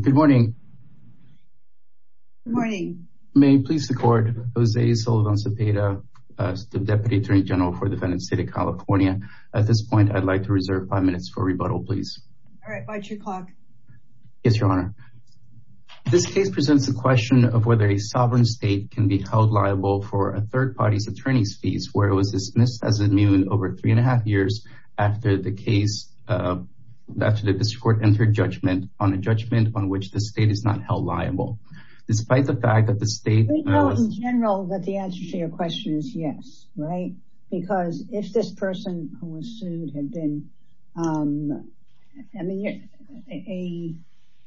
Good morning. May it please the court, Jose Sullivan Cepeda, Deputy Attorney General for the Defendant's State of California. At this point, I'd like to reserve five minutes for rebuttal, please. All right, by two o'clock. Yes, Your Honor. This case presents a question of whether a sovereign state can be held liable for a third party's attorney's fees where it was dismissed as immune over three and a half years after the case, after the district court entered judgment on a judgment on which the state is not held liable, despite the fact that the state... We know in general that the answer to your question is yes, right? Because if this person who was sued had been, I mean,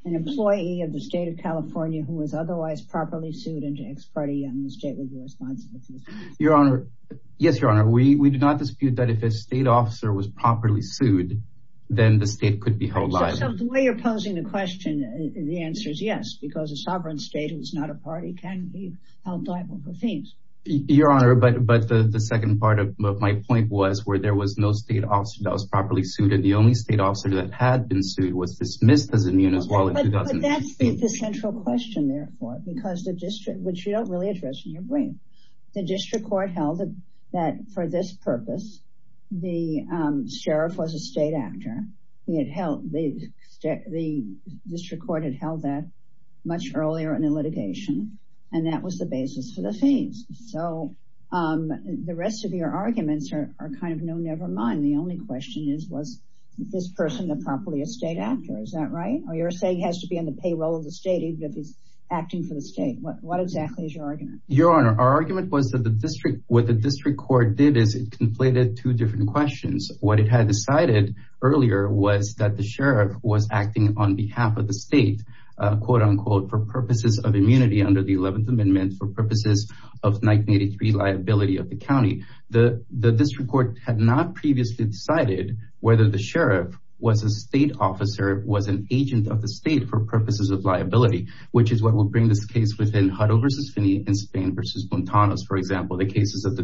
an employee of the State of California who was otherwise properly sued into ex-party and the state would be responsible. Your Honor, yes, Your Honor, we do not dispute that if a state officer was properly sued, then the state could be held liable. So the way you're posing the question, the answer is yes, because a sovereign state who's not a party can be held liable for fees. Your Honor, but the second part of my point was where there was no state officer that was properly sued and the only state officer that had been sued was dismissed as immune as well in 2008. But that's the central question, therefore, because the district, which you don't really address in your brief, the district court held that for this state actor. The district court had held that much earlier in the litigation and that was the basis for the fees. So the rest of your arguments are kind of no nevermind. The only question is, was this person the properly a state actor? Is that right? Or you're saying has to be on the payroll of the state if he's acting for the state. What exactly is your argument? Your Honor, our argument was that the district, what the district court did is it completed two different questions. What it had decided earlier was that the sheriff was acting on behalf of the state, for purposes of immunity under the 11th Amendment for purposes of 1983 liability of the county. The district court had not previously decided whether the sheriff was a state officer, was an agent of the state for purposes of liability, which is what will bring this case within Hutto v. Finney and Spain v. Montanos, for example, the cases that the the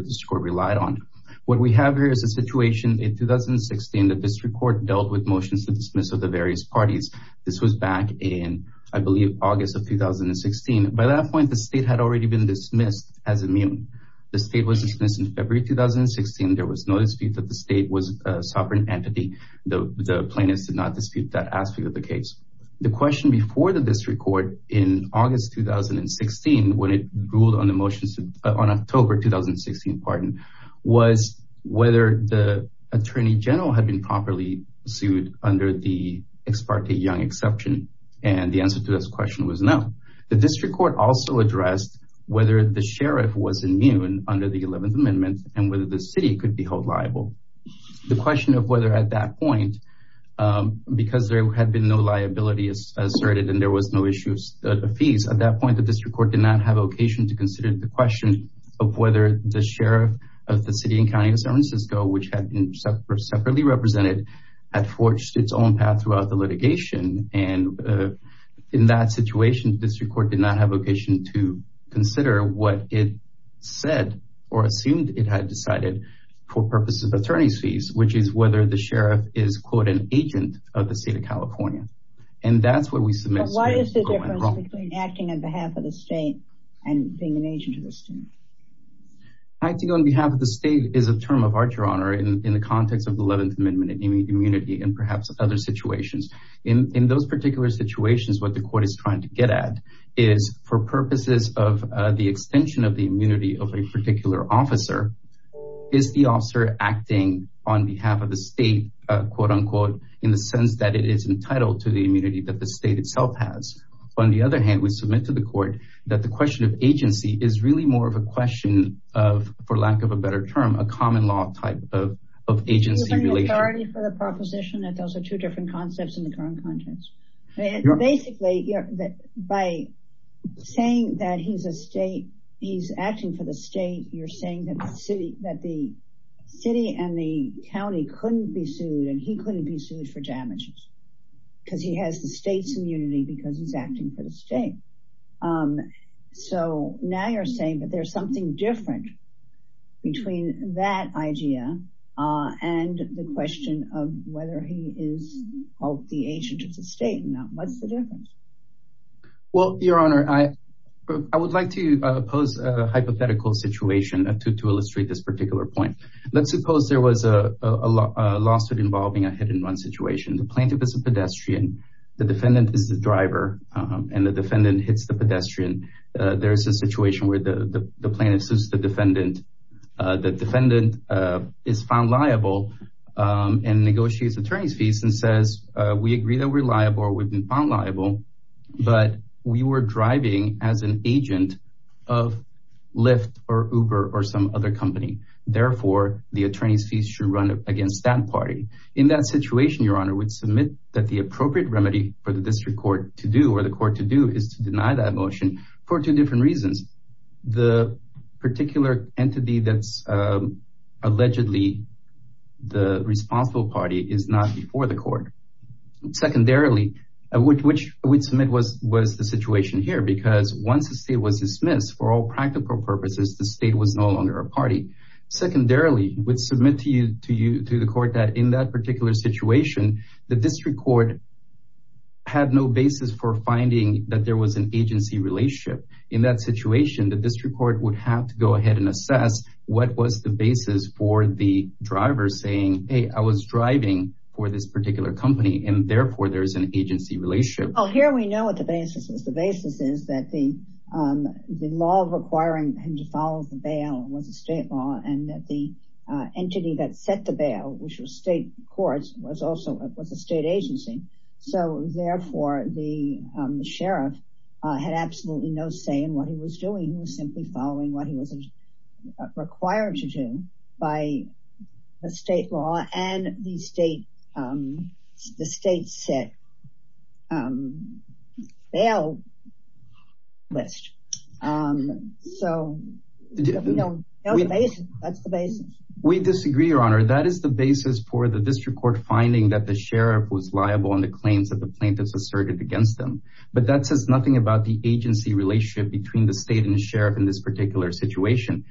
district court dealt with motions to dismiss of the various parties. This was back in, I believe, August of 2016. By that point, the state had already been dismissed as immune. The state was dismissed in February 2016. There was no dispute that the state was a sovereign entity. The plaintiffs did not dispute that aspect of the case. The question before the district court in August 2016, when it ruled on the motions on October 2016, pardon, was whether the attorney general had been properly sued under the Ex parte Young exception. And the answer to this question was no. The district court also addressed whether the sheriff was immune under the 11th Amendment and whether the city could be held liable. The question of whether at that point, because there had been no liability asserted and there was no issue of fees, at that point, the district court did not have a vocation to consider the question of whether the sheriff of the city and county of San Francisco, which had been separately represented, had forged its own path throughout the litigation. And in that situation, the district court did not have a vocation to consider what it said or assumed it had decided for purposes of attorney's fees, which is whether the sheriff is, quote, an agent of the state. And that's what we submit. Why is the difference between acting on behalf of the state and being an agent of the state? Acting on behalf of the state is a term of archer honor in the context of the 11th Amendment immunity and perhaps other situations. In those particular situations, what the court is trying to get at is for purposes of the extension of the immunity of a particular officer, is the officer acting on behalf of the state, quote, unquote, in the sense that it is entitled to the immunity that the state itself has. On the other hand, we submit to the court that the question of agency is really more of a question of, for lack of a better term, a common law type of agency. You're giving authority for the proposition that those are two different concepts in the current context. Basically, by saying that he's acting for the state, you're saying that the city and the county couldn't be sued and he couldn't be sued for damages because he has the state's immunity because he's acting for the state. So now you're saying that there's something different between that idea and the question of whether he is the agent of the state. Now, what's the difference? Well, Your Honor, I would like to pose a hypothetical situation to illustrate this particular point. Let's suppose there was a lawsuit involving a hit and run situation. The plaintiff is a pedestrian, the defendant is the driver, and the defendant hits the pedestrian. There's a situation where the plaintiff sues the defendant. The defendant is found liable and negotiates attorney's fees and says, we agree that we're liable or we've been found liable, but we were driving as an agent of Lyft or Uber or some other company. Therefore, the attorney's fees should run against that party. In that situation, Your Honor, we'd submit that the appropriate remedy for the district court to do or the court to do is to deny that motion for two different reasons. The particular entity that's allegedly the responsible party is not before the court. Secondarily, which we'd submit was the situation here because once the state was dismissed for all practical purposes, the state was no longer a party. Secondarily, we'd submit to you to the court that in that particular situation, the district court had no basis for finding that there was an agency relationship. In that situation, the district court would have to go ahead and assess what was the basis for the driver saying, hey, I was driving for this particular company, and therefore, there's an agency relationship. Here we know what the basis is. The basis is that the law requiring him to follow the bail was a state law and that the entity that set the bail, which was state courts, was also a state agency. Therefore, the sheriff had absolutely no say in what he was doing. He was simply following what he was required to do by a state law and the state set bail list. That's the basis. We disagree, Your Honor. That is the basis for the district court finding that the sheriff was liable on the claims that the plaintiffs asserted against them. But that says nothing about the agency relationship between the state and the sheriff in this particular situation.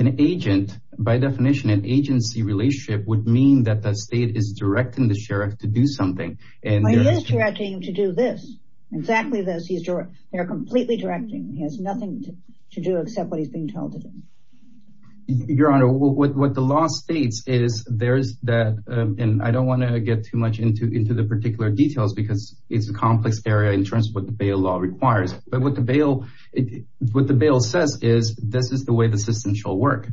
An agent, by definition, an agency relationship would mean that the state is directing the sheriff to do something. He is directing him to do this, exactly this. They're completely directing. He has nothing to do except what he's being told to do. Your Honor, what the law states is there's that, and I don't want to get too much into the particular details because it's a complex area in terms of what the bail law requires, but what the bail says is this is the way the system shall work.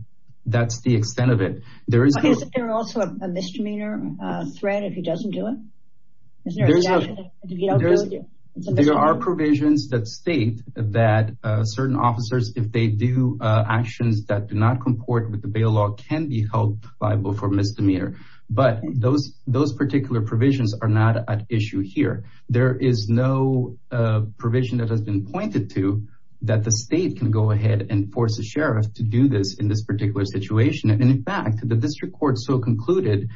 That's the extent of it. There is also a misdemeanor threat if he doesn't do it? There are provisions that state that certain officers, if they do actions that do not comport with the bail law, can be held liable for misdemeanor. But those particular provisions are not at issue here. There is no provision that has been pointed to that the state can go ahead and force the sheriff to do this in this particular situation. And in fact, the district court so concluded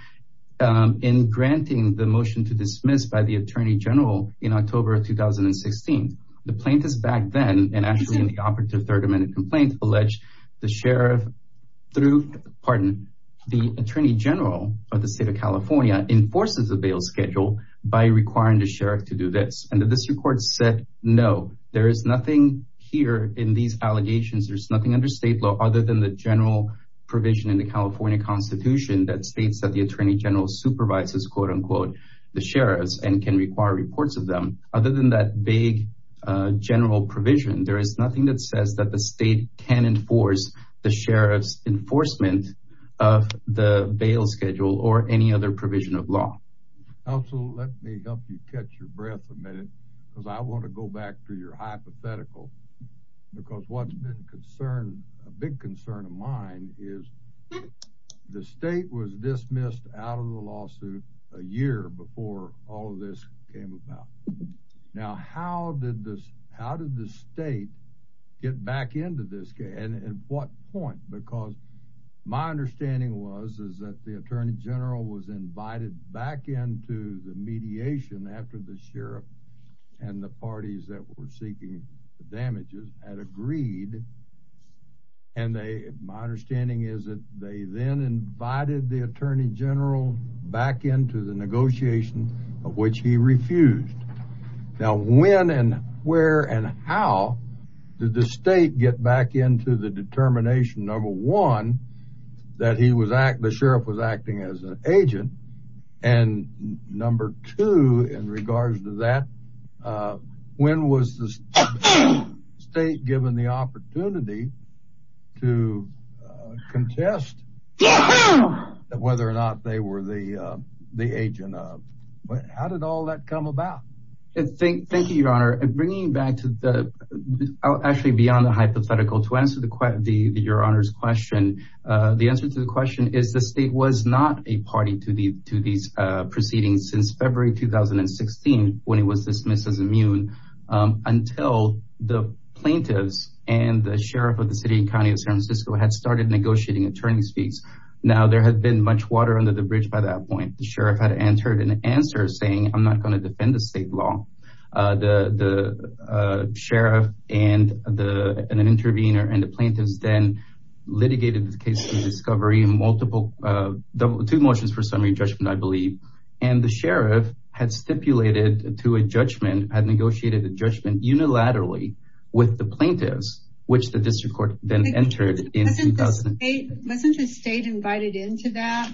in granting the motion to dismiss by the attorney general in October of 2016, the plaintiffs back then and actually in the operative third amendment complaint alleged the sheriff through, pardon, the attorney general of the state of California enforces the bail schedule by requiring the sheriff to do this. And the district court said, no, there is nothing here in these allegations. There's nothing under state law other than the general provision in the California constitution that states that the attorney general supervises quote unquote, the sheriffs and can require reports of them other than that big general provision. There is nothing that says that the state can enforce the sheriff's enforcement of the bail schedule or any other provision of law. Also, let me help you catch your breath a minute because I want to go back to your hypothetical because what's been concerned, a big concern of mine is the state was dismissed out of the lawsuit a year before all of this came about. Now, how did this, how did the state get back into this case and at what point? Because my understanding was, is that the attorney general was invited back into the mediation after the sheriff and the parties that were seeking the damages had agreed. And they, my understanding is that they then invited the attorney general back into the negotiation of which he refused. Now, when and where and how did the state get back into the And number two, in regards to that, when was the state given the opportunity to contest whether or not they were the, the agent of, how did all that come about? Thank you, your honor. And bringing back to the, actually beyond the hypothetical to answer the, the, your honors question. The answer to the question is the state was not a party to the, to these proceedings since February, 2016, when he was dismissed as immune until the plaintiffs and the sheriff of the city county of San Francisco had started negotiating attorney's fees. Now there had been much water under the bridge. By that point, the sheriff had entered an answer saying, I'm not going to defend the state law. The sheriff and the, and an intervener and the and the sheriff had stipulated to a judgment had negotiated the judgment unilaterally with the plaintiffs, which the district court then entered in 2008. Wasn't the state invited into that?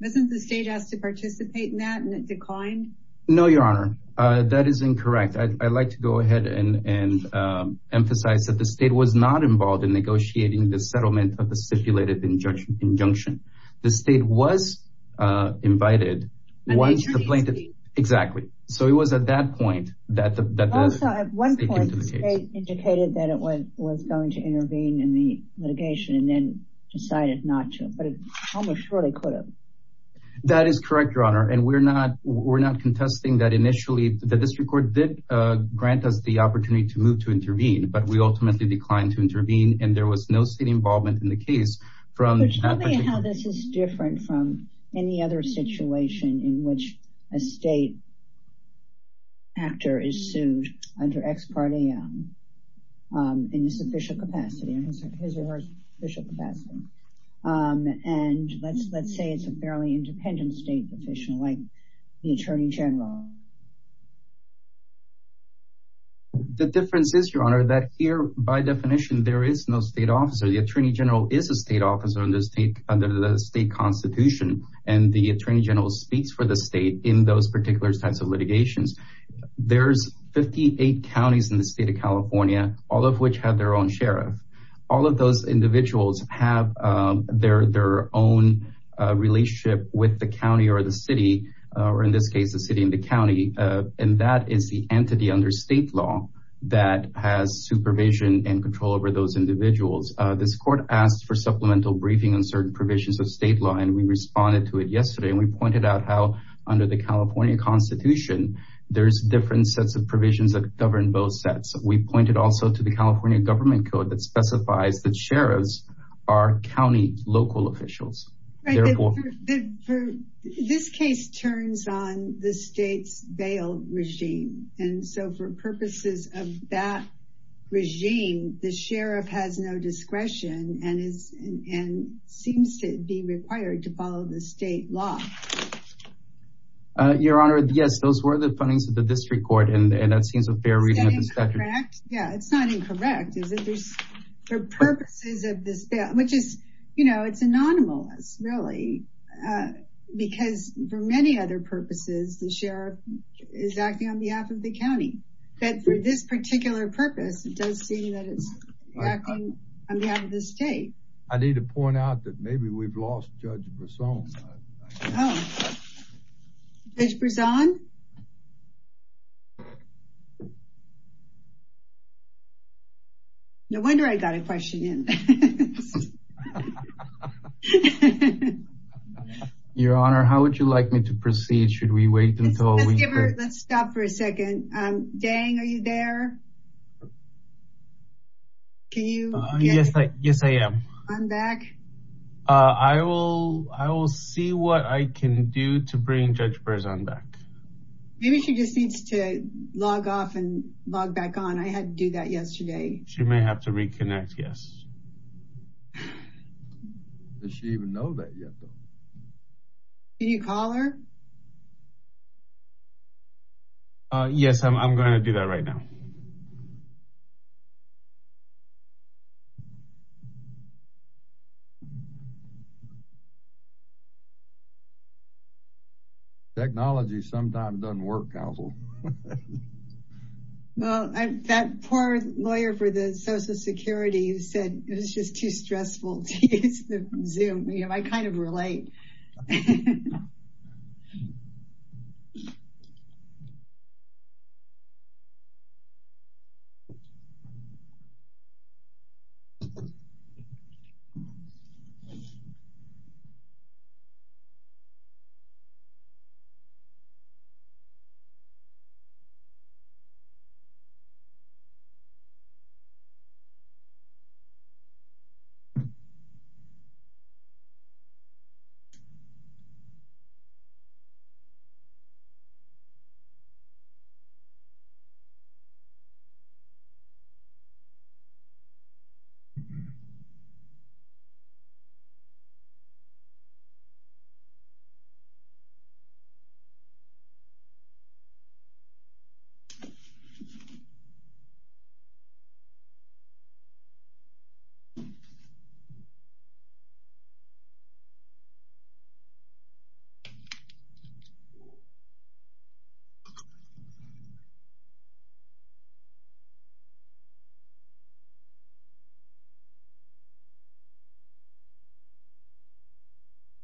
Wasn't the state has to participate in that and it declined? No, your honor. That is incorrect. I'd like to go ahead and, and emphasize that the state was not involved in negotiating the settlement of the stipulated injunction injunction. The state was invited once the plaintiff, exactly. So it was at that point that the, that the state indicated that it was going to intervene in the litigation and then decided not to, but it almost surely could have. That is correct, your honor. And we're not, we're not contesting that initially the district court did grant us the opportunity to move to intervene, but we ultimately declined to intervene. And there was no state involvement in the case from that. Tell me how this is different from any other situation in which a state actor is sued under ex parte in this official capacity and his or her official capacity. And let's, let's say it's a fairly independent state position like the attorney general. The difference is your honor, that here by definition, there is no state officer. The attorney general is a state officer in this state under the state constitution. And the attorney general speaks for the state in those particular types of litigations. There's 58 counties in the state of California, all of which have their own sheriff. All of those individuals have their, their own relationship with the county or the city, or in this case, the city and the county. And that is the entity under state law that has supervision and control over those individuals. This court asked for supplemental briefing on certain provisions of state law. And we responded to it yesterday and we pointed out how under the California constitution, there's different sets of provisions that govern both sets. We pointed also to the California government code that specifies that sheriffs are county local officials. This case turns on the state's bail machine. And so for purposes of that regime, the sheriff has no discretion and is, and seems to be required to follow the state law. Your honor, yes, those were the findings of the district court. And that seems a fair reading of the statute. Yeah, it's not incorrect, is it? There's, for purposes of this bill, which is, you know, it's anonymous really, because for many other purposes, the sheriff is acting on behalf of the county. But for this particular purpose, it does seem that it's acting on behalf of the state. I need to point out that maybe we've lost Judge Brisson. Judge Brisson? No wonder I got a question in. Your honor, how would you like me to proceed? Should we wait until we... Let's stop for a second. Deng, are you there? Can you... Yes, I am. I will see what I can do to bring Judge Brisson back. Maybe she just needs to log off and log back on. I had to do that yesterday. She may have to reconnect, yes. Does she even know that yet though? Can you call her? Yes, I'm going to do that right now. Well, that poor lawyer for the social security said it was just too stressful to use the Zoom. You know, I kind of relate. Okay.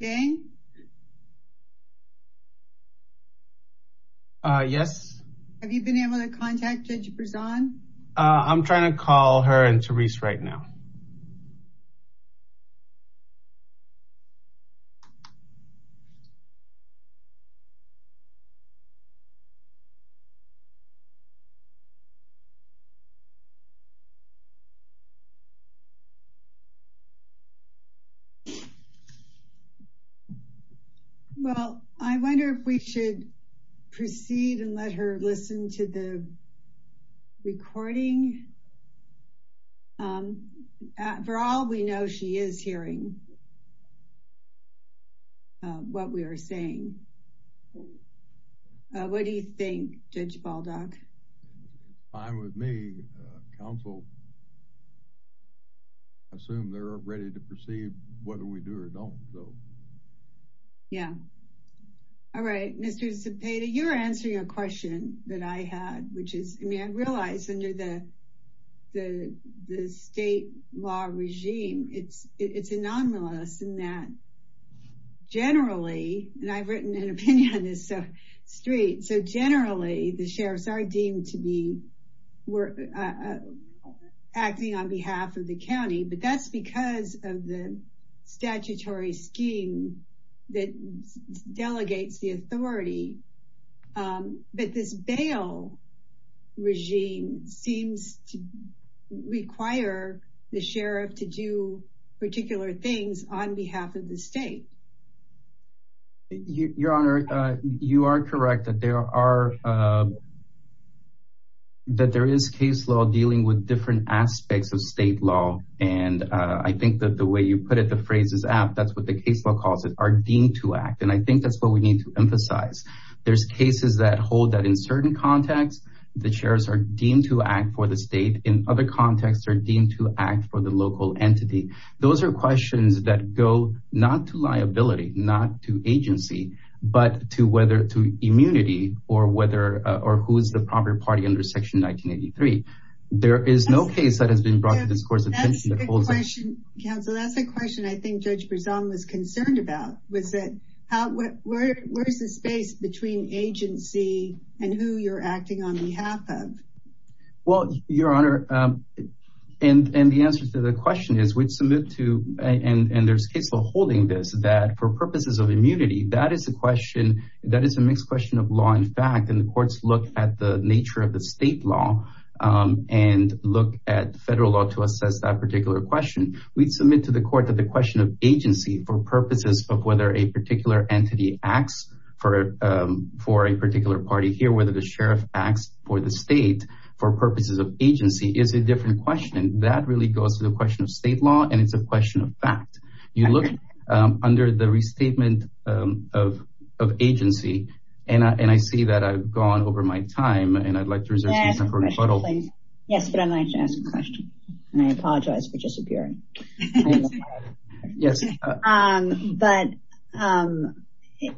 Deng? Yes? Have you been able to contact Judge Brisson? I'm trying to call her and Therese right now. Okay. Well, I wonder if we should proceed and let her listen to the recording. For all we know, she is hearing. What we are saying. What do you think, Judge Baldock? Fine with me. Counsel, I assume they're ready to proceed whether we do or don't. Yeah. All right. Mr. Zepeda, you're answering a question that I had, which is, I mean, I realize under the state law regime, it's anomalous in that generally, and I've written an opinion on this street. So generally, the sheriffs are deemed to be acting on behalf of the county, but that's because of the statutory scheme that delegates the authority. But this bail regime seems to require the sheriff to do particular things on behalf of the state. Your Honor, you are correct that there is case law dealing with different aspects of state law. And I think that the way you put it, the phrase is apt. That's what the case law calls it, are deemed to act. And I think that's what we need to emphasize. There's cases that hold that in certain contexts, the sheriffs are deemed to act for the state. In other contexts, they're deemed to act for the local entity. Those are questions that go not to liability, not to agency, but to whether to immunity or whether or who's the proper party under section 1983. There is no case that has been brought to this court's attention. Counsel, that's a question I think Judge Berzon was concerned about, was that, where's the space between agency and who you're acting on behalf of? Well, Your Honor, and the answer to the question is we'd submit to, and there's case law holding this, that for purposes of immunity, that is a question, that is a mixed question of law and fact. And the courts look at the nature of the state law and look at federal law to assess that particular question. We'd submit to the court that the question of agency for purposes of whether a for purposes of agency is a different question. That really goes to the question of state law, and it's a question of fact. You look under the restatement of agency, and I see that I've gone over my time, and I'd like to reserve some time for rebuttal. Yes, but I'd like to ask a question, and I apologize for disappearing. Yes. But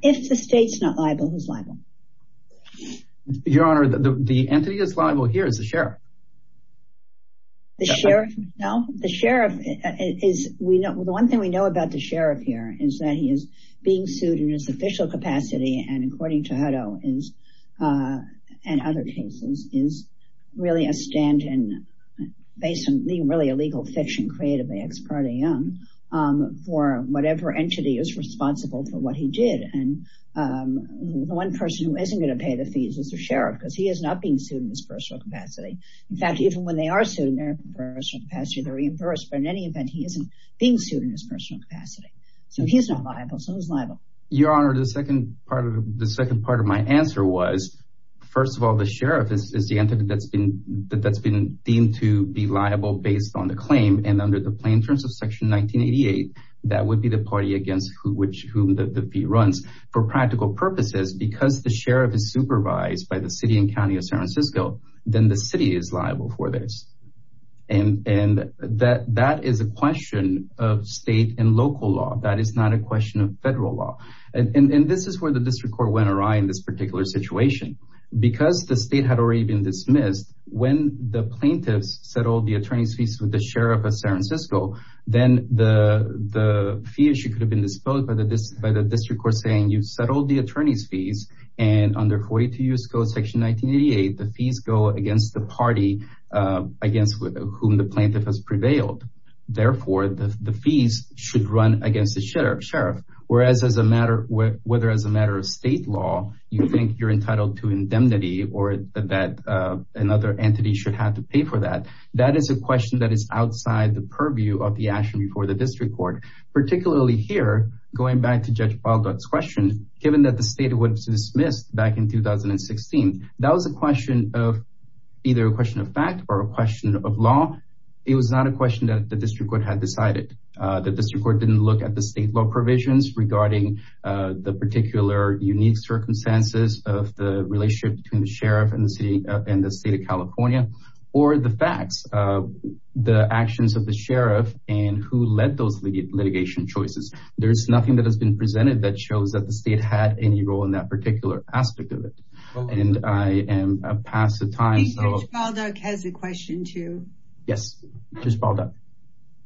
if the state's not liable, who's liable? Your Honor, the entity that's liable here is the sheriff. The sheriff? No, the sheriff is, we know, the one thing we know about the sheriff here is that he is being sued in his official capacity, and according to Hutto is, and other cases, is really a stand-in based on being really a legal fiction created by ex parte Young for whatever entity is responsible for what he did, and the one person who isn't going to pay the fees is the sheriff because he is not being sued in his personal capacity. In fact, even when they are sued in their personal capacity, they're reimbursed, but in any event, he isn't being sued in his personal capacity, so he's not liable, so who's liable? Your Honor, the second part of my answer was, first of all, the sheriff is the entity that's been deemed to be liable based on the claim, and under the plaintiffs of section 1988, that would be the party against whom the fee runs. For practical purposes, because the sheriff is supervised by the city and county of San Francisco, then the city is liable for this, and that is a question of state and local law. That is not a question of federal law, and this is where the district court went awry in this particular situation. Because the state had already been dismissed, when the plaintiffs settled the sheriff of San Francisco, then the fee issue could have been disposed by the district court saying you've settled the attorney's fees, and under 42 U.S. Code section 1988, the fees go against the party against whom the plaintiff has prevailed. Therefore, the fees should run against the sheriff, whereas as a matter of state law, you think you're entitled to indemnity or that another entity should have to pay for that. That is a question that is outside the purview of the action before the district court. Particularly here, going back to Judge Baldock's question, given that the state was dismissed back in 2016, that was a question of either a question of fact or a question of law. It was not a question that the district court had decided. The district court didn't look at the state law provisions regarding the particular unique circumstances of the relationship between the sheriff and the state of California, or the facts of the actions of the sheriff and who led those litigation choices. There's nothing that has been presented that shows that the state had any role in that particular aspect of it. And I am past the time. I think Judge Baldock has a question too. Yes, Judge Baldock.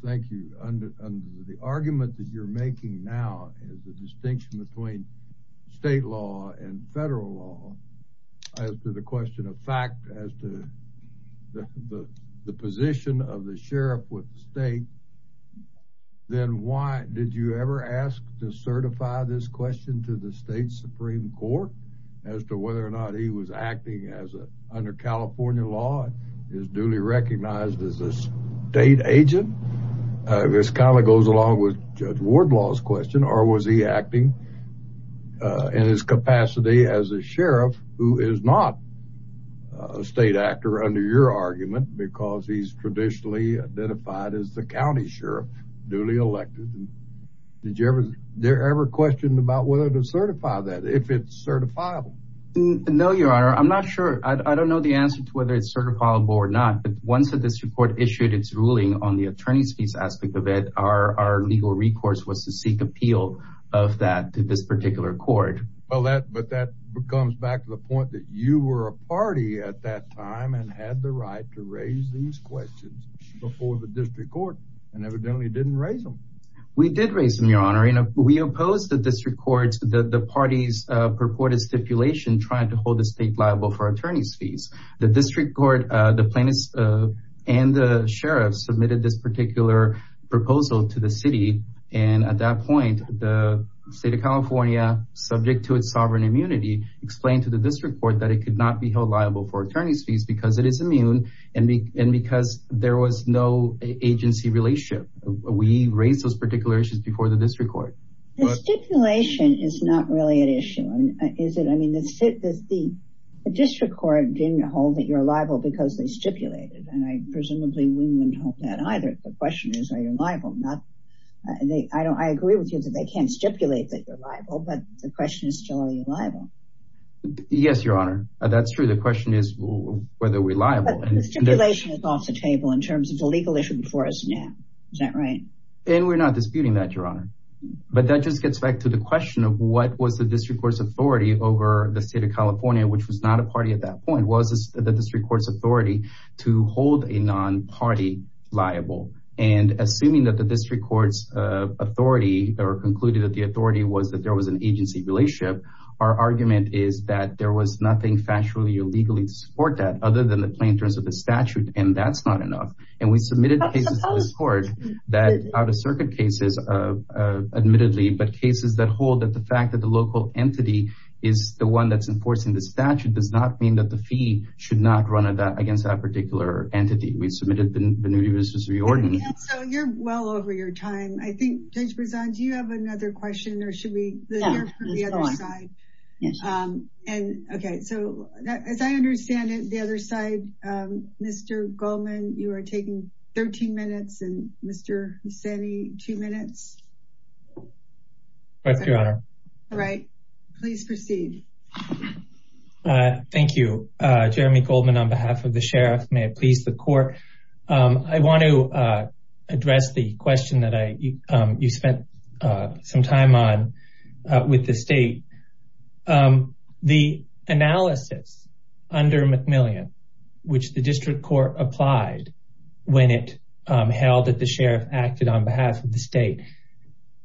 Thank you. The argument that you're making now is the distinction between state law and federal law. As to the question of fact, as to the position of the sheriff with the state, then why did you ever ask to certify this question to the state supreme court as to whether or not he was acting under California law, is duly recognized as a state agent? This kind of goes along with Judge Wardlaw's question, or was he acting in his capacity as a sheriff who is not a state actor under your argument because he's traditionally identified as the county sheriff, duly elected? Did you ever, they're ever questioned about whether to certify that, if it's certifiable? No, your honor. I'm not sure. I don't know the answer to whether it's certifiable or not, but once the district court issued its ruling on the attorney's fees aspect of it, our legal recourse was to seek appeal of that to this particular court. Well, that, but that comes back to the point that you were a party at that time and had the right to raise these questions before the district court and evidently didn't raise them. We did raise them, your honor. And we opposed the district court, the party's purported stipulation trying to hold the state liable for attorney's fees. The district court, the plaintiffs and the sheriff submitted this particular proposal to the city. And at that point, the state of California, subject to its sovereign immunity, explained to the district court that it could not be held liable for attorney's fees because it is immune and because there was no agency relationship. We raised those particular issues before the district court. The stipulation is not really an issue, is it? I mean, the district court didn't hold that you're stipulated. And I presumably wouldn't hold that either. The question is, are you liable? I agree with you that they can't stipulate that you're liable, but the question is still, are you liable? Yes, your honor. That's true. The question is, whether we're liable. The stipulation is off the table in terms of the legal issue before us now. Is that right? And we're not disputing that, your honor. But that just gets back to the question of what was the district court's authority over the state of California, which was not a party at that point. Was the district court's authority to hold a non-party liable? And assuming that the district court's authority or concluded that the authority was that there was an agency relationship, our argument is that there was nothing factually or legally to support that other than the plaintiffs of the statute, and that's not enough. And we submitted cases to this court that are out-of-circuit cases, admittedly, but cases that hold that the fact that the local entity is the one that's the statute does not mean that the fee should not run against that particular entity. We submitted the new jurisdiction to the ordinance. So you're well over your time. I think Judge Brisson, do you have another question or should we hear from the other side? Yes. And okay. So as I understand it, the other side, Mr. Goldman, you are taking 13 minutes and Mr. Husseini, two minutes. Thank you, Your Honor. All right, please proceed. Thank you, Jeremy Goldman on behalf of the sheriff. May it please the court. I want to address the question that you spent some time on with the state. The analysis under McMillian, which the district court applied when it held that the sheriff acted on behalf of the state,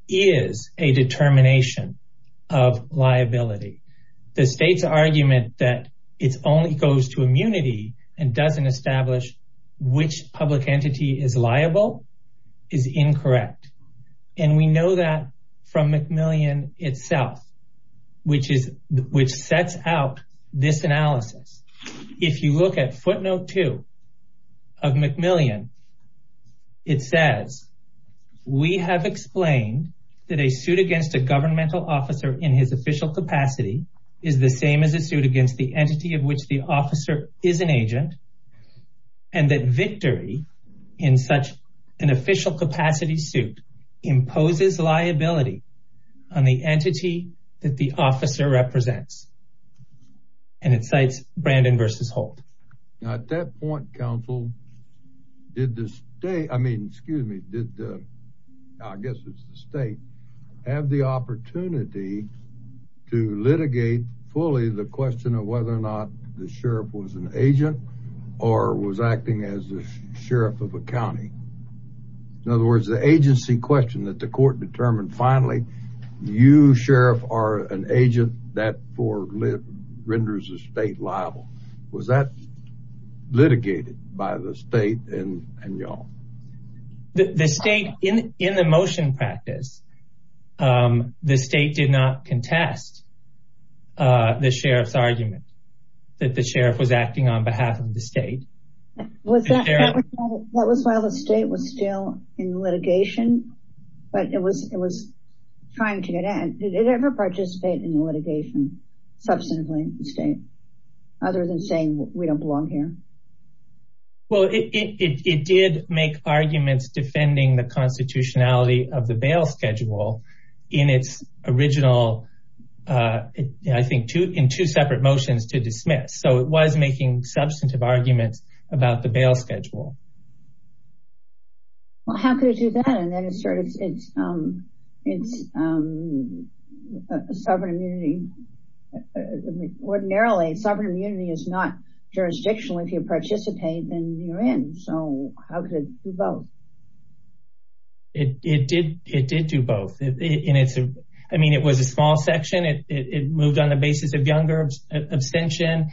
is a determination of liability. The state's argument that it only goes to immunity and doesn't establish which public entity is liable is incorrect. And we know that from McMillian itself, which sets out this analysis. If you look at footnote two of McMillian, it says, we have explained that a suit against a governmental officer in his official capacity is the same as a suit against the entity of which the officer is an agent and that victory in such an official capacity suit imposes liability on the entity that the officer represents. And it cites Brandon versus Holt. Now at that point, counsel, did the state, I mean, excuse me, did the, I guess it's the state, have the opportunity to litigate fully the question of whether or not the sheriff was an agent or was acting as the sheriff of a county. In other words, the agency question that the court determined, finally, you sheriff are an agent that renders the state liable. Was that litigated by the state and y'all? The state, in the motion practice, the state did not contest the sheriff's argument that the sheriff was acting on behalf of the state. Was that, that was while the state was still in litigation, but it was, it was trying to get in. Did it ever participate in the litigation substantively in the state, other than saying we don't belong here? Well, it did make arguments defending the constitutionality of the bail schedule in its original, I think two, in two separate motions to dismiss. So it was making substantive arguments about the bail schedule. Well, how could it do that? And then it sort of, it's, it's sovereign immunity, ordinarily sovereign immunity is not jurisdictional. If you participate, then you're in. So how could it do both? It did, it did do both. I mean, it was a small section. It moved on the basis of younger abstention.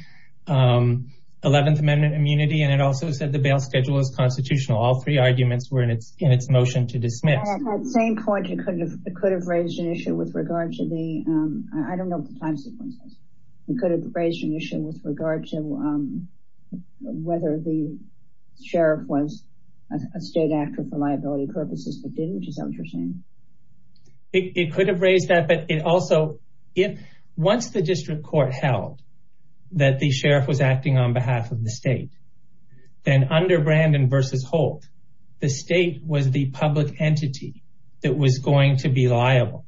11th amendment immunity. And it also said the bail schedule is constitutional. All three arguments were in its, in its motion to dismiss. At the same point, it could have, it could have raised an issue with regard to the, I don't know what the time sequence is. It could have raised an issue with regard to whether the sheriff was a state actor for liability purposes, but didn't, which is interesting. It could have raised that, but it also, if once the district court held that the state, then under Brandon versus Holt, the state was the public entity that was going to be liable.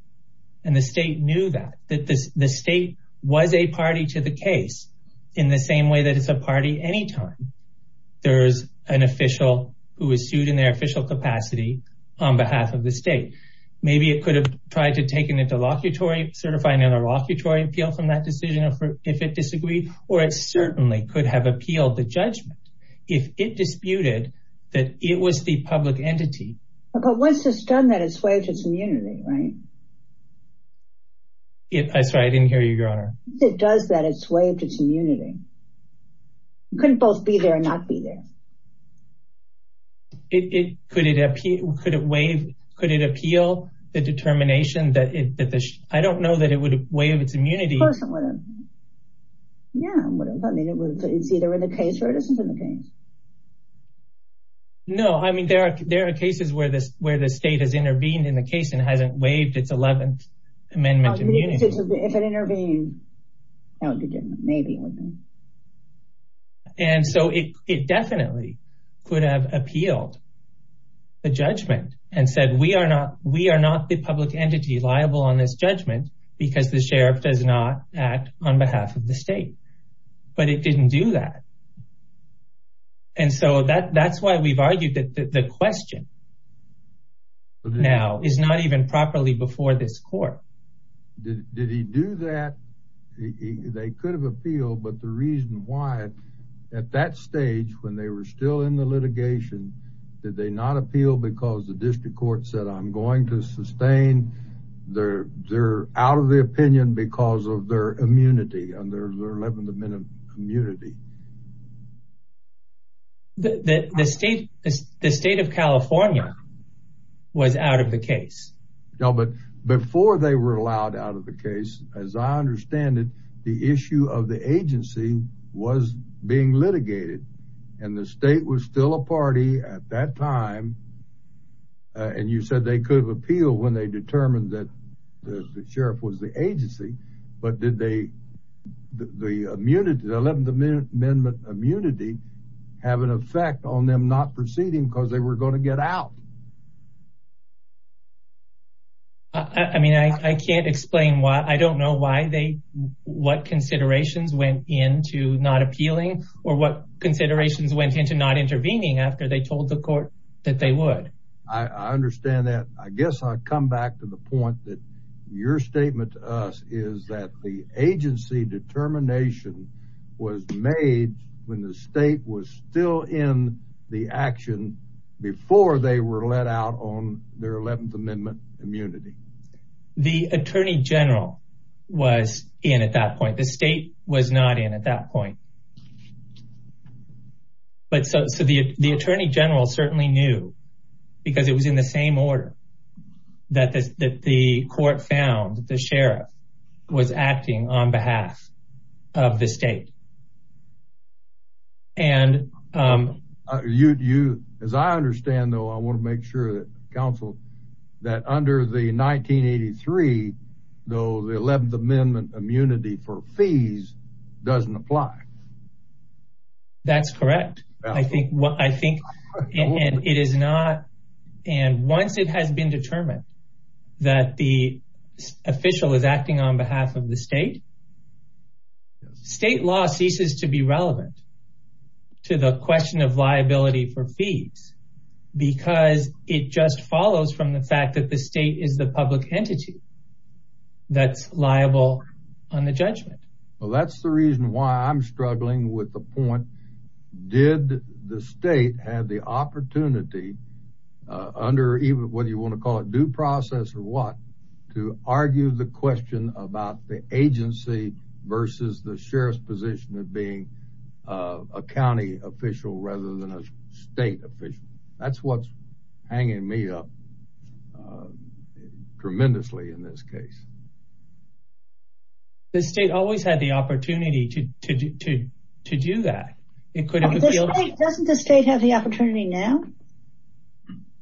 And the state knew that, that the state was a party to the case in the same way that it's a party anytime there's an official who is sued in their official capacity on behalf of the state. Maybe it could have tried to take an interlocutory, certify an interlocutory appeal from that decision if it disagreed, or it certainly could have appealed the judgment. If it disputed that it was the public entity. But once it's done that, it's waived its immunity, right? I'm sorry, I didn't hear you, your honor. If it does that, it's waived its immunity. It couldn't both be there and not be there. It, could it appeal, could it waive, could it appeal the determination that it, that the, I don't know that it would waive its immunity. Yeah, I mean, it's either in the case or it isn't in the case. No, I mean, there are, there are cases where this, where the state has intervened in the case and hasn't waived its 11th amendment. If it intervened. And so it definitely could have appealed the judgment and said, we are not, we are not the because the sheriff does not act on behalf of the state, but it didn't do that. And so that that's why we've argued that the question now is not even properly before this court. Did he do that? They could have appealed, but the reason why at that stage, when they were still in the litigation, did they not appeal because the district court said, I'm going to out of the opinion because of their immunity and their 11th amendment immunity. The state of California was out of the case. No, but before they were allowed out of the case, as I understand it, the issue of the agency was being litigated and the state was still a party at that time. And you said they could appeal when they determined that the sheriff was the agency, but did they, the immunity, the 11th amendment immunity have an effect on them not proceeding because they were going to get out. I mean, I can't explain why, I don't know why they, what considerations went into not appealing or what considerations went into not intervening after they told the court that they would. I understand that. I guess I'd come back to the point that your statement to us is that the agency determination was made when the state was still in the action before they were let out on their 11th amendment immunity. The attorney general was in at that point, the state was not in at that point. But so the attorney general certainly knew because it was in the same order that the court found the sheriff was acting on behalf of the state. And you, as I understand, though, I want to make sure that counsel that under the 1983, though, the 11th amendment immunity for fees doesn't apply. That's correct. I think what I think it is not. And once it has been determined that the official is acting on behalf of the state, state law ceases to be relevant to the question of liability for fees, because it just follows from the fact that the state is the public entity that's liable on the judgment. Well, that's the reason why I'm struggling with the point. Did the state have the opportunity under even whether you want to call it due process or what to argue the question about the agency versus the sheriff's position of being a county official rather than a state official? That's what's hanging me up. Tremendously, in this case. The state always had the opportunity to do that. Doesn't the state have the opportunity now?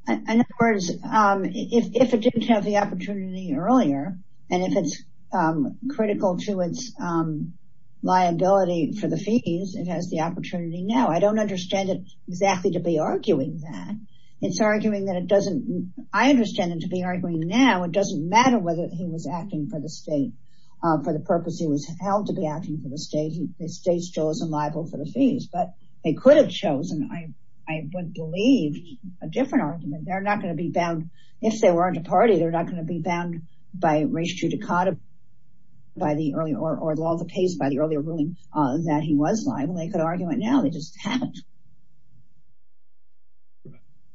In other words, if it didn't have the opportunity earlier and if it's critical to its liability for the fees, it has the opportunity now. I don't understand it exactly to be arguing that. It's arguing that it doesn't. I understand it to be arguing now. It doesn't matter whether he was acting for the state for the purpose he was held to be acting for the state. The state's chosen liable for the fees, but they could have chosen. I would believe a different argument. They're not going to be bound. If they weren't a party, they're not going to be bound by ratio to caught up by the early or the pace by the earlier ruling that he was liable. They could argue it now. They just haven't.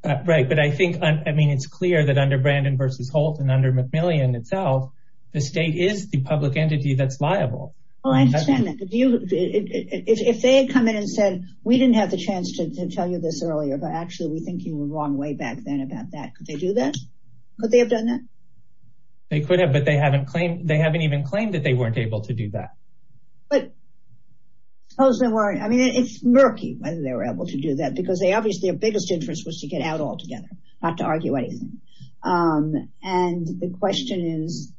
It's clear that under Brandon v. Holt and under McMillian itself, the state is the public entity that's liable. I understand that. If they had come in and said, we didn't have the chance to tell you this earlier, but actually we think you were wrong way back then about that. Could they do that? Could they have done that? They could have, but they haven't even claimed that they weren't able to do that. It's murky whether they were able to do that because obviously their biggest interest was to get out altogether, not to argue anything. The question is,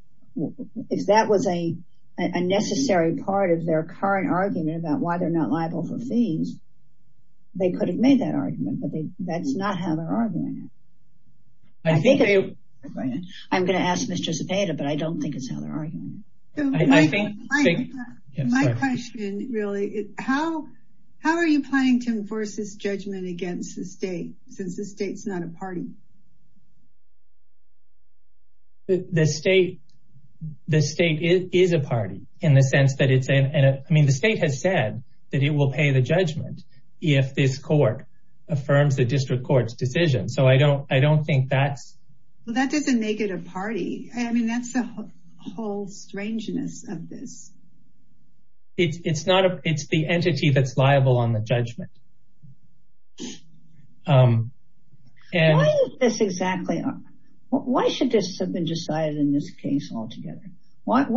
if that was a necessary part of their current argument about why they're not liable for fees, they could have made that argument, but that's not how they're arguing it. I'm going to ask Ms. Giuseppetta, but I don't think it's how they're arguing it. How are you planning to enforce this judgment against the state, since the state's not a party? The state is a party. The state has said that it will pay the judgment if this court affirms the district court's decision. That doesn't make it a party. That's the whole strangeness of this. It's the entity that's liable on the judgment. Why should this have been decided in this case altogether? What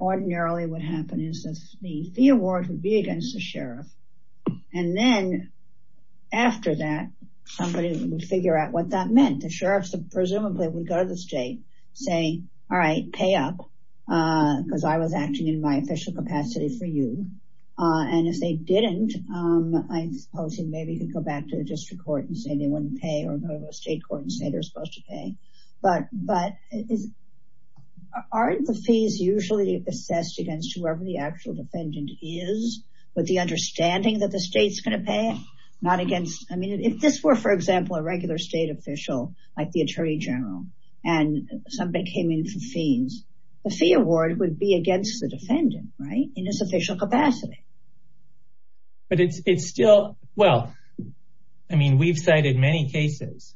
ordinarily would happen is that the fee award would be against the sheriff, and then after that, somebody would figure out what that meant. The sheriff, presumably, would go to the state and say, pay up because I was acting in my official capacity for you. If they didn't, I suppose you could go back to the district court and say they wouldn't pay, or go to the state court and say they're supposed to pay. Aren't the fees usually assessed against whoever the actual defendant is, with the understanding that the state's going to pay? If this were, for example, a regular state official, like the attorney general, and somebody came in for fees, the fee award would be against the defendant in his official capacity. We've cited many cases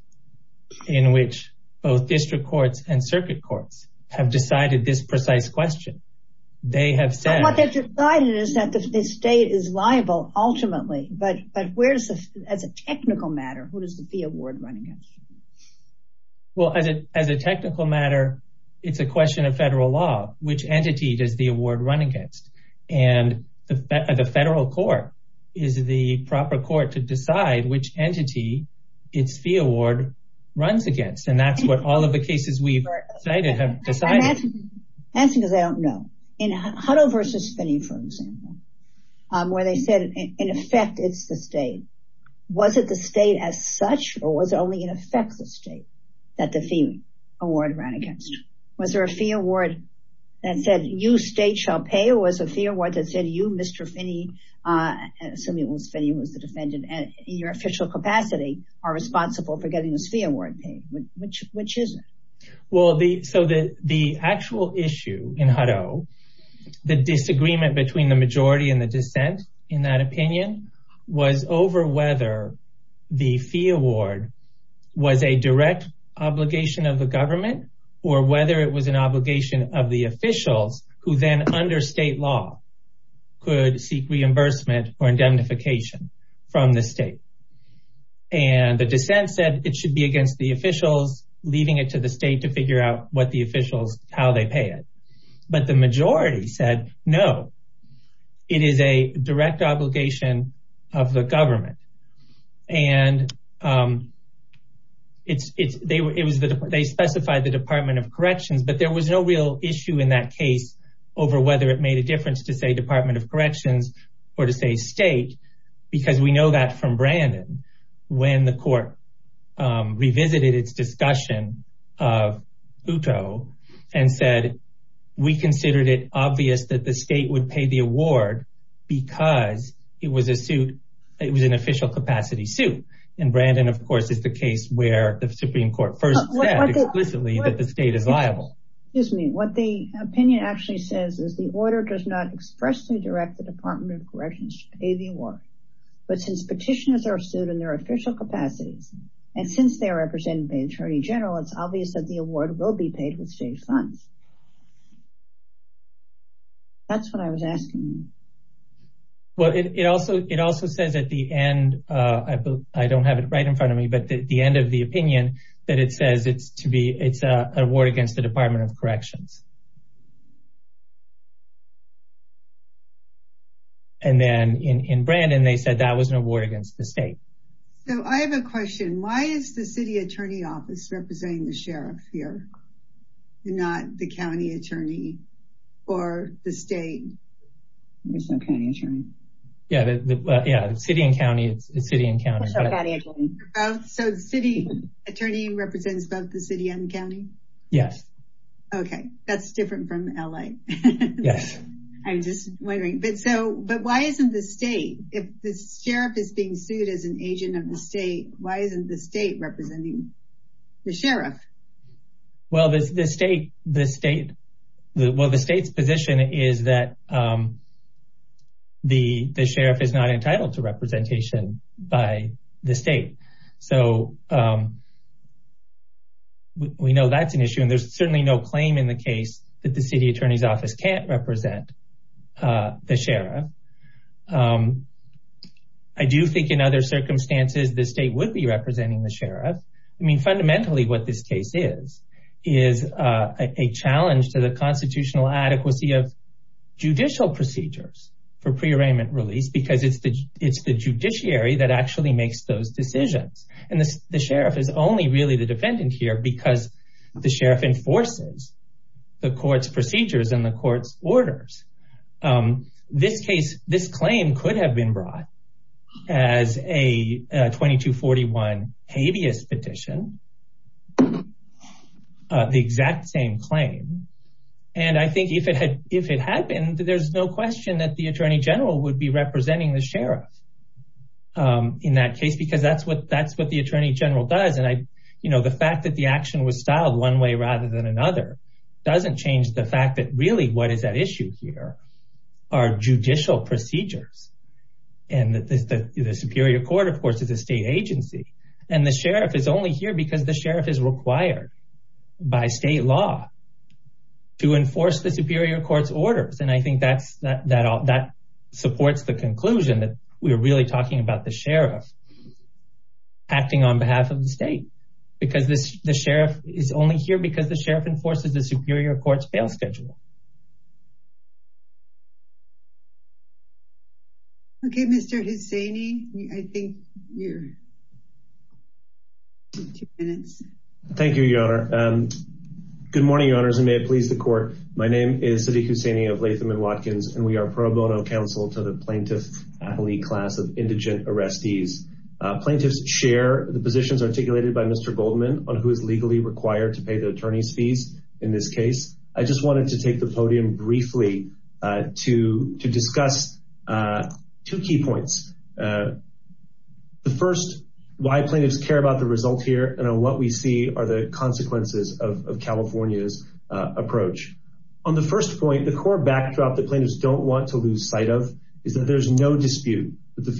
in which both district courts and circuit courts have decided this precise question. What they've decided is that the state is liable ultimately, but as a technical matter, who does the fee award run against? Well, as a technical matter, it's a question of federal law. Which entity does the award run against? The federal court is the proper court to decide which entity its fee award runs against, and that's what all of the cases we've cited have decided. I'm asking because I don't know. In Hutto v. Finney, for example, where they said, in effect, it's the state, was it the state as such, or was it only, in effect, the state that the fee award ran against? Was there a fee award that said, you, state, shall pay, or was a fee award that said, you, Mr. Finney, assuming it was Finney who was the defendant in your official capacity, are responsible for getting this fee award paid? Which is it? So the actual issue in Hutto, the disagreement between the majority and the dissent, in that opinion, was over whether the fee award was a direct obligation of the government, or whether it was an obligation of the officials who then, under state law, could seek reimbursement or indemnification from the state. And the dissent said it should be to figure out what the officials, how they pay it. But the majority said, no, it is a direct obligation of the government. And they specified the Department of Corrections, but there was no real issue in that case over whether it made a difference to say Department of Corrections or to say state, because we know that from Brandon, when the court revisited its discussion of Hutto and said, we considered it obvious that the state would pay the award because it was a suit, it was an official capacity suit. And Brandon, of course, is the case where the Supreme Court first said explicitly that the state is liable. Excuse me, what the opinion actually says is the order does not expressly direct the Department of Corrections to pay the award. But since petitioners are sued in their official capacities, and since they're represented by the Attorney General, it's obvious that the award will be paid with state funds. That's what I was asking. Well, it also says at the end, I don't have it right in front of me, but the end of the opinion that it says it's to be, it's an award against the Department of Corrections. And then in Brandon, they said that was an award against the state. So I have a question. Why is the city attorney office representing the sheriff here, not the county attorney or the state? Yeah, the city and county, it's city and county. So city attorney represents both the city and county? Yes. Okay, that's different from LA. Yes. I'm just wondering, but why isn't the state, if the sheriff is being sued as an agent of the state, why isn't the state representing the sheriff? Well, the state's position is that the sheriff is not entitled to representation by the state. So we know that's an issue. And there's certainly no claim in the case that the city attorney's represent the sheriff. I do think in other circumstances, the state would be representing the sheriff. I mean, fundamentally, what this case is, is a challenge to the constitutional adequacy of judicial procedures for prearrangement release, because it's the judiciary that actually makes those decisions. And the sheriff is only really the defendant here because the sheriff enforces the court's procedures and the court's orders. This claim could have been brought as a 2241 habeas petition, the exact same claim. And I think if it had been, there's no question that the attorney general would be representing the sheriff in that case, because that's what the attorney general does. And the fact that the action was one way rather than another, doesn't change the fact that really what is at issue here are judicial procedures. And the superior court, of course, is a state agency. And the sheriff is only here because the sheriff is required by state law to enforce the superior court's orders. And I think that supports the conclusion that we're really talking about the because the sheriff enforces the superior court's bail schedule. Okay, Mr. Hussaini, I think you're two minutes. Thank you, Your Honor. Good morning, Your Honors, and may it please the court. My name is Sadiq Hussaini of Latham and Watkins, and we are pro bono counsel to the plaintiff appellee class of indigent arrestees. Plaintiffs share the positions articulated by Mr. Goldman on who is legally required to pay the attorney's fees in this case. I just wanted to take the podium briefly to discuss two key points. The first, why plaintiffs care about the result here, and what we see are the consequences of California's approach. On the first point, the core backdrop that plaintiffs don't want to lose sight of is that there's no dispute that the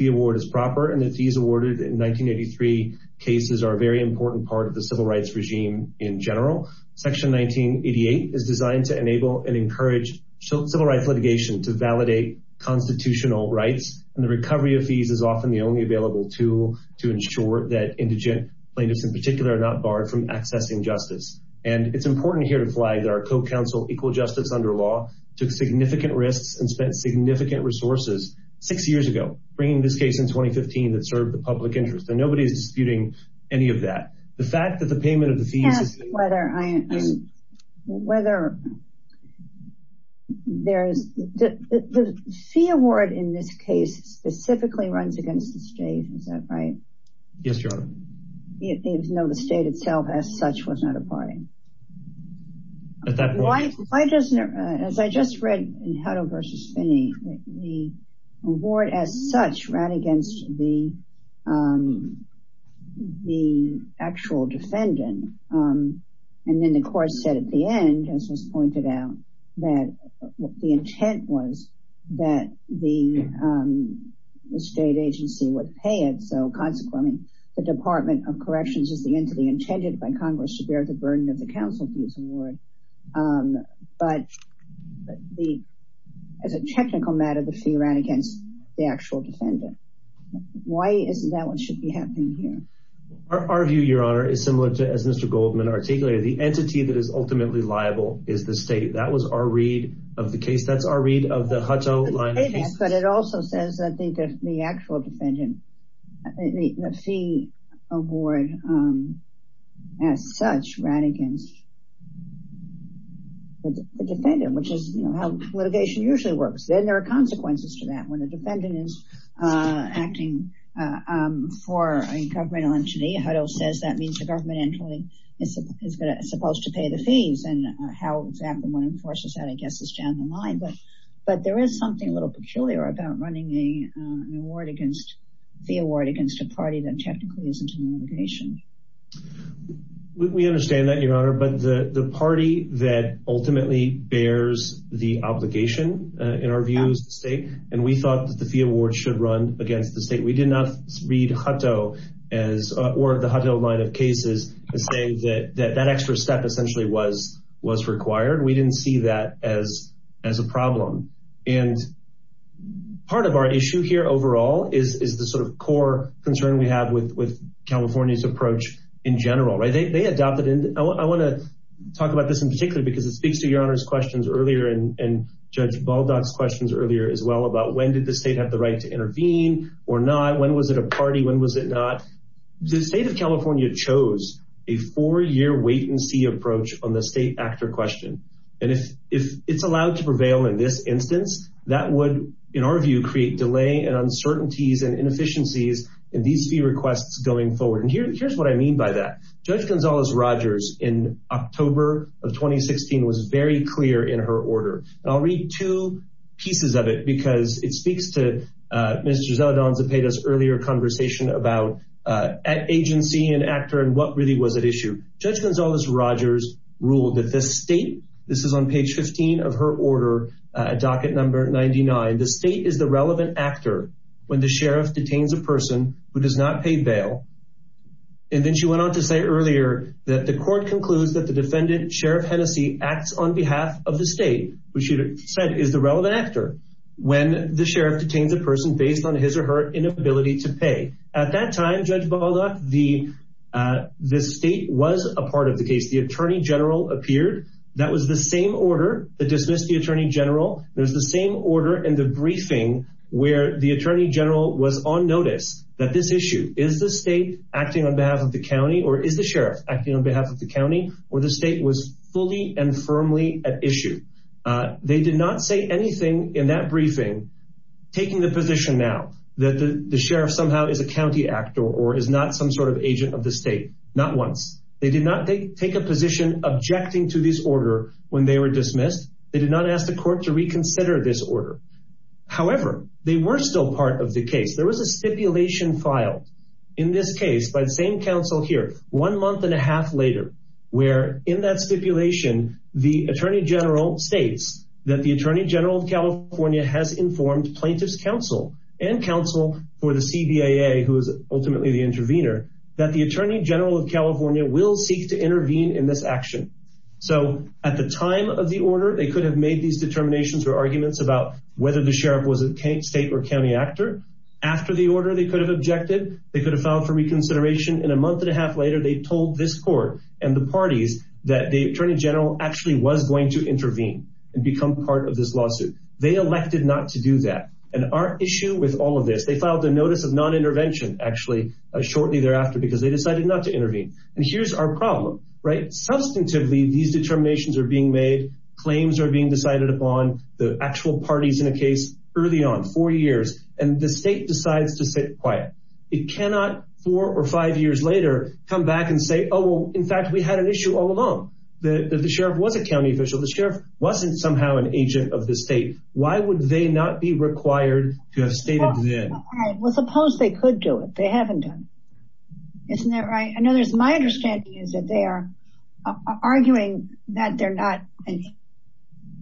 civil rights regime in general. Section 1988 is designed to enable and encourage civil rights litigation to validate constitutional rights, and the recovery of fees is often the only available tool to ensure that indigent plaintiffs in particular are not barred from accessing justice. And it's important here to flag that our co-counsel, Equal Justice Under Law, took significant risks and spent significant resources six years ago, bringing this case in public interest, and nobody's disputing any of that. The fact that the payment of the fees... Can I ask whether there's... The fee award in this case specifically runs against the state, is that right? Yes, your honor. No, the state itself as such was not a party. At that point... Why doesn't it... As I just read in Hutto versus Finney, the award as such ran against the actual defendant, and then the court said at the end, as was pointed out, that the intent was that the state agency would pay it, so consequently, the Department of Corrections is the entity intended by Congress to bear the burden of counsel fees award. But as a technical matter, the fee ran against the actual defendant. Why isn't that what should be happening here? Our view, your honor, is similar to as Mr. Goldman articulated. The entity that is ultimately liable is the state. That was our read of the case. That's our read of the Hutto line of cases. But it also says that the actual defendant, the fee award as such ran against the defendant, which is how litigation usually works. Then there are consequences to that. When a defendant is acting for a governmental entity, Hutto says that means the government entity is supposed to pay the fees, and how exactly one enforces that, I guess, is down the line. But there is something a little peculiar about running an award against a party that technically isn't in litigation. We understand that, your honor. But the party that ultimately bears the obligation, in our view, is the state, and we thought that the fee award should run against the state. We did not read Hutto or the Hutto line of cases to say that that extra step essentially was required. We didn't see that as a problem. And part of our core concern we have with California's approach in general. I want to talk about this in particular because it speaks to your honor's questions earlier and Judge Baldock's questions earlier as well about when did the state have the right to intervene or not? When was it a party? When was it not? The state of California chose a four-year wait-and-see approach on the state actor question. And if it's allowed to prevail in this instance, that would, in our view, create delay and uncertainties and inefficiencies in these fee requests going forward. And here's what I mean by that. Judge Gonzales-Rogers, in October of 2016, was very clear in her order. And I'll read two pieces of it because it speaks to Mr. Zeldon's and Peta's earlier conversation about agency and actor and what really was at issue. Judge Gonzales-Rogers ruled that this state, this is on page 15 of her order, docket number 99, the state is the relevant actor when the sheriff detains a person who does not pay bail. And then she went on to say earlier that the court concludes that the defendant, Sheriff Hennessey, acts on behalf of the state, which she said is the relevant actor, when the sheriff detains a person based on his or her inability to pay. At that time, Judge Baldock, the state was a part of the case. The attorney general appeared. That was the same order that dismissed the attorney general. There's the same order in the briefing where the attorney general was on notice that this issue is the state acting on behalf of the county or is the sheriff acting on behalf of the county or the state was fully and firmly at issue. They did not say anything in that briefing, taking the position now that the sheriff somehow is a county actor or is not some sort of agent of the state. Not once. They did take a position objecting to this order when they were dismissed. They did not ask the court to reconsider this order. However, they were still part of the case. There was a stipulation filed in this case by the same counsel here one month and a half later, where in that stipulation, the attorney general states that the attorney general of California has informed plaintiff's counsel and counsel for the CBAA, who is ultimately the intervener, that the attorney general of California is to intervene in this action. So at the time of the order, they could have made these determinations or arguments about whether the sheriff was a state or county actor. After the order, they could have objected. They could have filed for reconsideration. And a month and a half later, they told this court and the parties that the attorney general actually was going to intervene and become part of this lawsuit. They elected not to do that. And our issue with all of this, they filed a notice of non-intervention actually shortly thereafter because they decided not to intervene. And here's our problem, right? Substantively, these determinations are being made, claims are being decided upon, the actual parties in a case early on, four years, and the state decides to sit quiet. It cannot, four or five years later, come back and say, oh, in fact, we had an issue all along. The sheriff was a county official. The sheriff wasn't somehow an agent of the state. Why would they not be required to have stated then? Well, suppose they could do it. They haven't done. Isn't that right? I know there's my understanding is that they are arguing that they're not an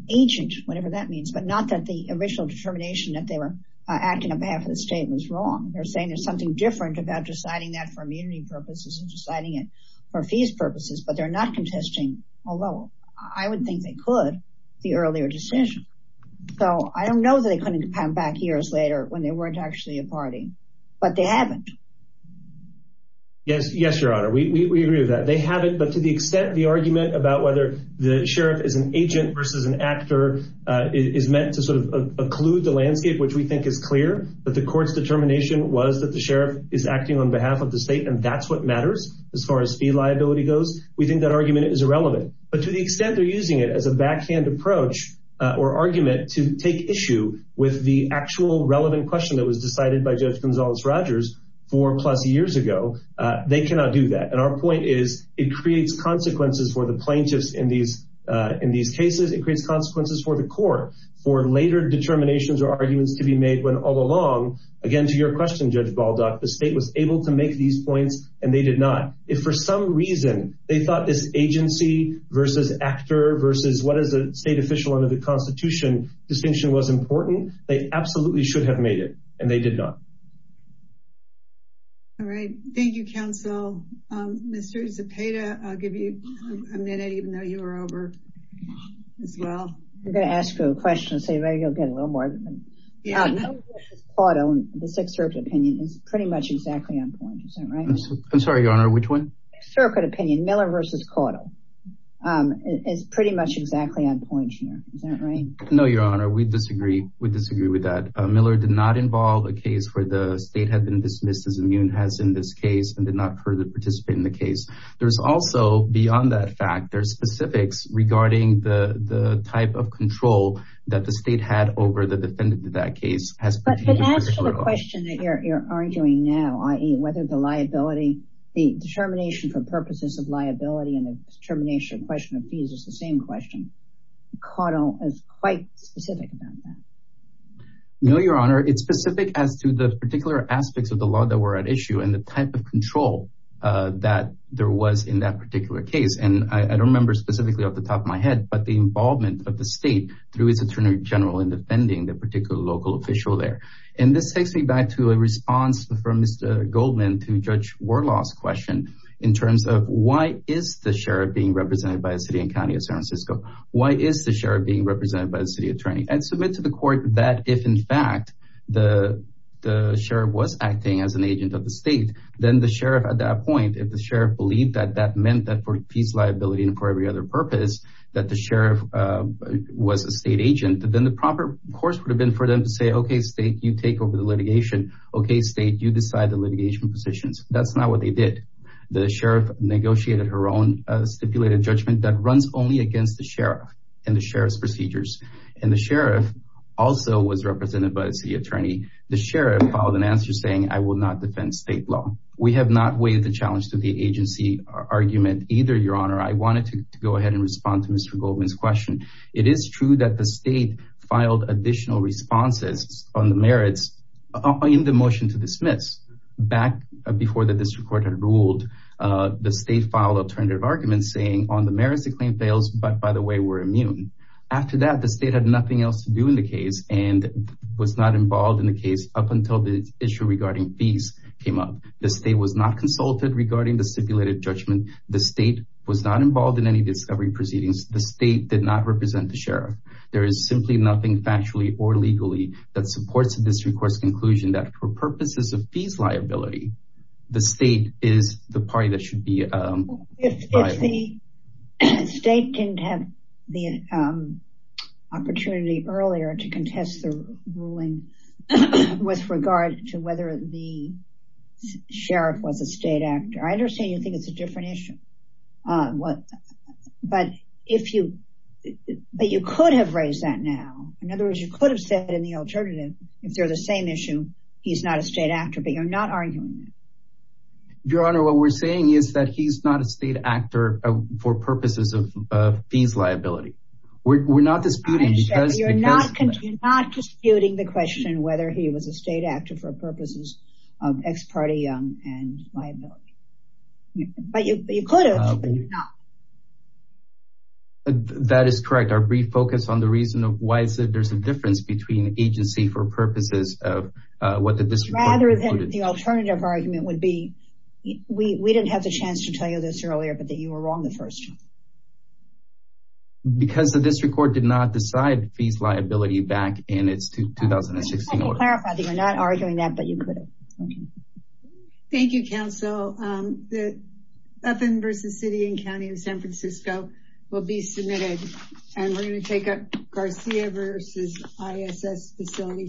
agent, whatever that means, but not that the original determination that they were acting on behalf of the state was wrong. They're saying there's something different about deciding that for immunity purposes and deciding it for fees purposes, but they're not contesting, although I would think they could, the earlier decision. So I don't know that they weren't actually a party, but they haven't. Yes, yes, your honor. We agree with that. They have it, but to the extent the argument about whether the sheriff is an agent versus an actor is meant to sort of occlude the landscape, which we think is clear, but the court's determination was that the sheriff is acting on behalf of the state, and that's what matters as far as fee liability goes. We think that argument is irrelevant, but to the extent they're using it as a backhand approach or argument to take issue with the actual relevant question that was decided by Judge Gonzalez-Rogers four plus years ago, they cannot do that. And our point is it creates consequences for the plaintiffs in these cases. It creates consequences for the court for later determinations or arguments to be made when all along, again, to your question, Judge Baldock, the state was able to make these points and they did not. If for some reason they thought this agency versus actor what is a state official under the constitution distinction was important, they absolutely should have made it and they did not. All right. Thank you, counsel. Mr. Zepeda, I'll give you a minute, even though you are over as well. I'm going to ask you a question and see if you'll get a little more. The Sixth Circuit opinion is pretty much exactly on point. Is that right? I'm sorry, your honor, which one? Circuit opinion. Miller versus Caudill is pretty much exactly on point here. Is that right? No, your honor, we disagree. We disagree with that. Miller did not involve a case where the state had been dismissed as immune has in this case and did not further participate in the case. There's also beyond that fact, there's specifics regarding the type of control that the state had over the defendant in that case. But as to the question that you're arguing now, i.e. whether the determination for purposes of liability and the determination of question of fees is the same question. Caudill is quite specific about that. No, your honor, it's specific as to the particular aspects of the law that were at issue and the type of control that there was in that particular case. And I don't remember specifically off the top of my head, but the involvement of the state through his attorney general in defending the particular local official there. And this takes me back to a response from Mr. Goldman to Judge Warlaw's question in terms of why is the sheriff being represented by a city and county of San Francisco? Why is the sheriff being represented by the city attorney? And submit to the court that if in fact the sheriff was acting as an agent of the state, then the sheriff at that point, if the sheriff believed that that meant that for fees liability and for every other purpose, that the sheriff was a state agent, then the proper course would have been for them to say, okay, state, you take over the litigation. Okay, state, you decide the litigation positions. That's not what they did. The sheriff negotiated her own stipulated judgment that runs only against the sheriff and the sheriff's procedures. And the sheriff also was represented by the city attorney. The sheriff filed an answer saying, I will not defend state law. We have not weighed the challenge to the agency argument either, your honor. I wanted to go ahead and respond to Mr. Goldman's question. It is true that the state filed additional responses on the merits in the motion to dismiss back before the district court had ruled. The state filed alternative arguments saying on the merits the claim fails, but by the way, we're immune. After that, the state had nothing else to do in the case and was not involved in the case up until the issue regarding fees came up. The state was not consulted regarding the stipulated judgment. The state was not involved in any discovery proceedings. The state did not represent the sheriff. There is simply nothing factually or legally that supports the district court's conclusion that for purposes of fees liability, the state is the party that should be- If the state didn't have the opportunity earlier to contest the ruling with regard to whether the sheriff was a state actor. I understand you think it's a different issue, but you could have raised that now. In other words, you could have said in the alternative, if they're the same issue, he's not a state actor, but you're not arguing that. Your honor, what we're saying is that he's not a state actor for purposes of fees liability. We're not disputing- You're not disputing the question whether he was a state actor for purposes of ex parte and liability. But you could have, but you're not. That is correct. Our brief focus on the reason of why there's a difference between agency for purposes of what the district court concluded. Rather than the alternative argument would be, we didn't have the chance to tell you this earlier, but that you were wrong the first time. Because the district court did not decide fees liability back in its 2016 order. Clarify that you're not arguing that, but you could have. Thank you, counsel. Bethan v. City and County of San Francisco will be submitted. And we're going to take up Garcia v. ISS Facility Services.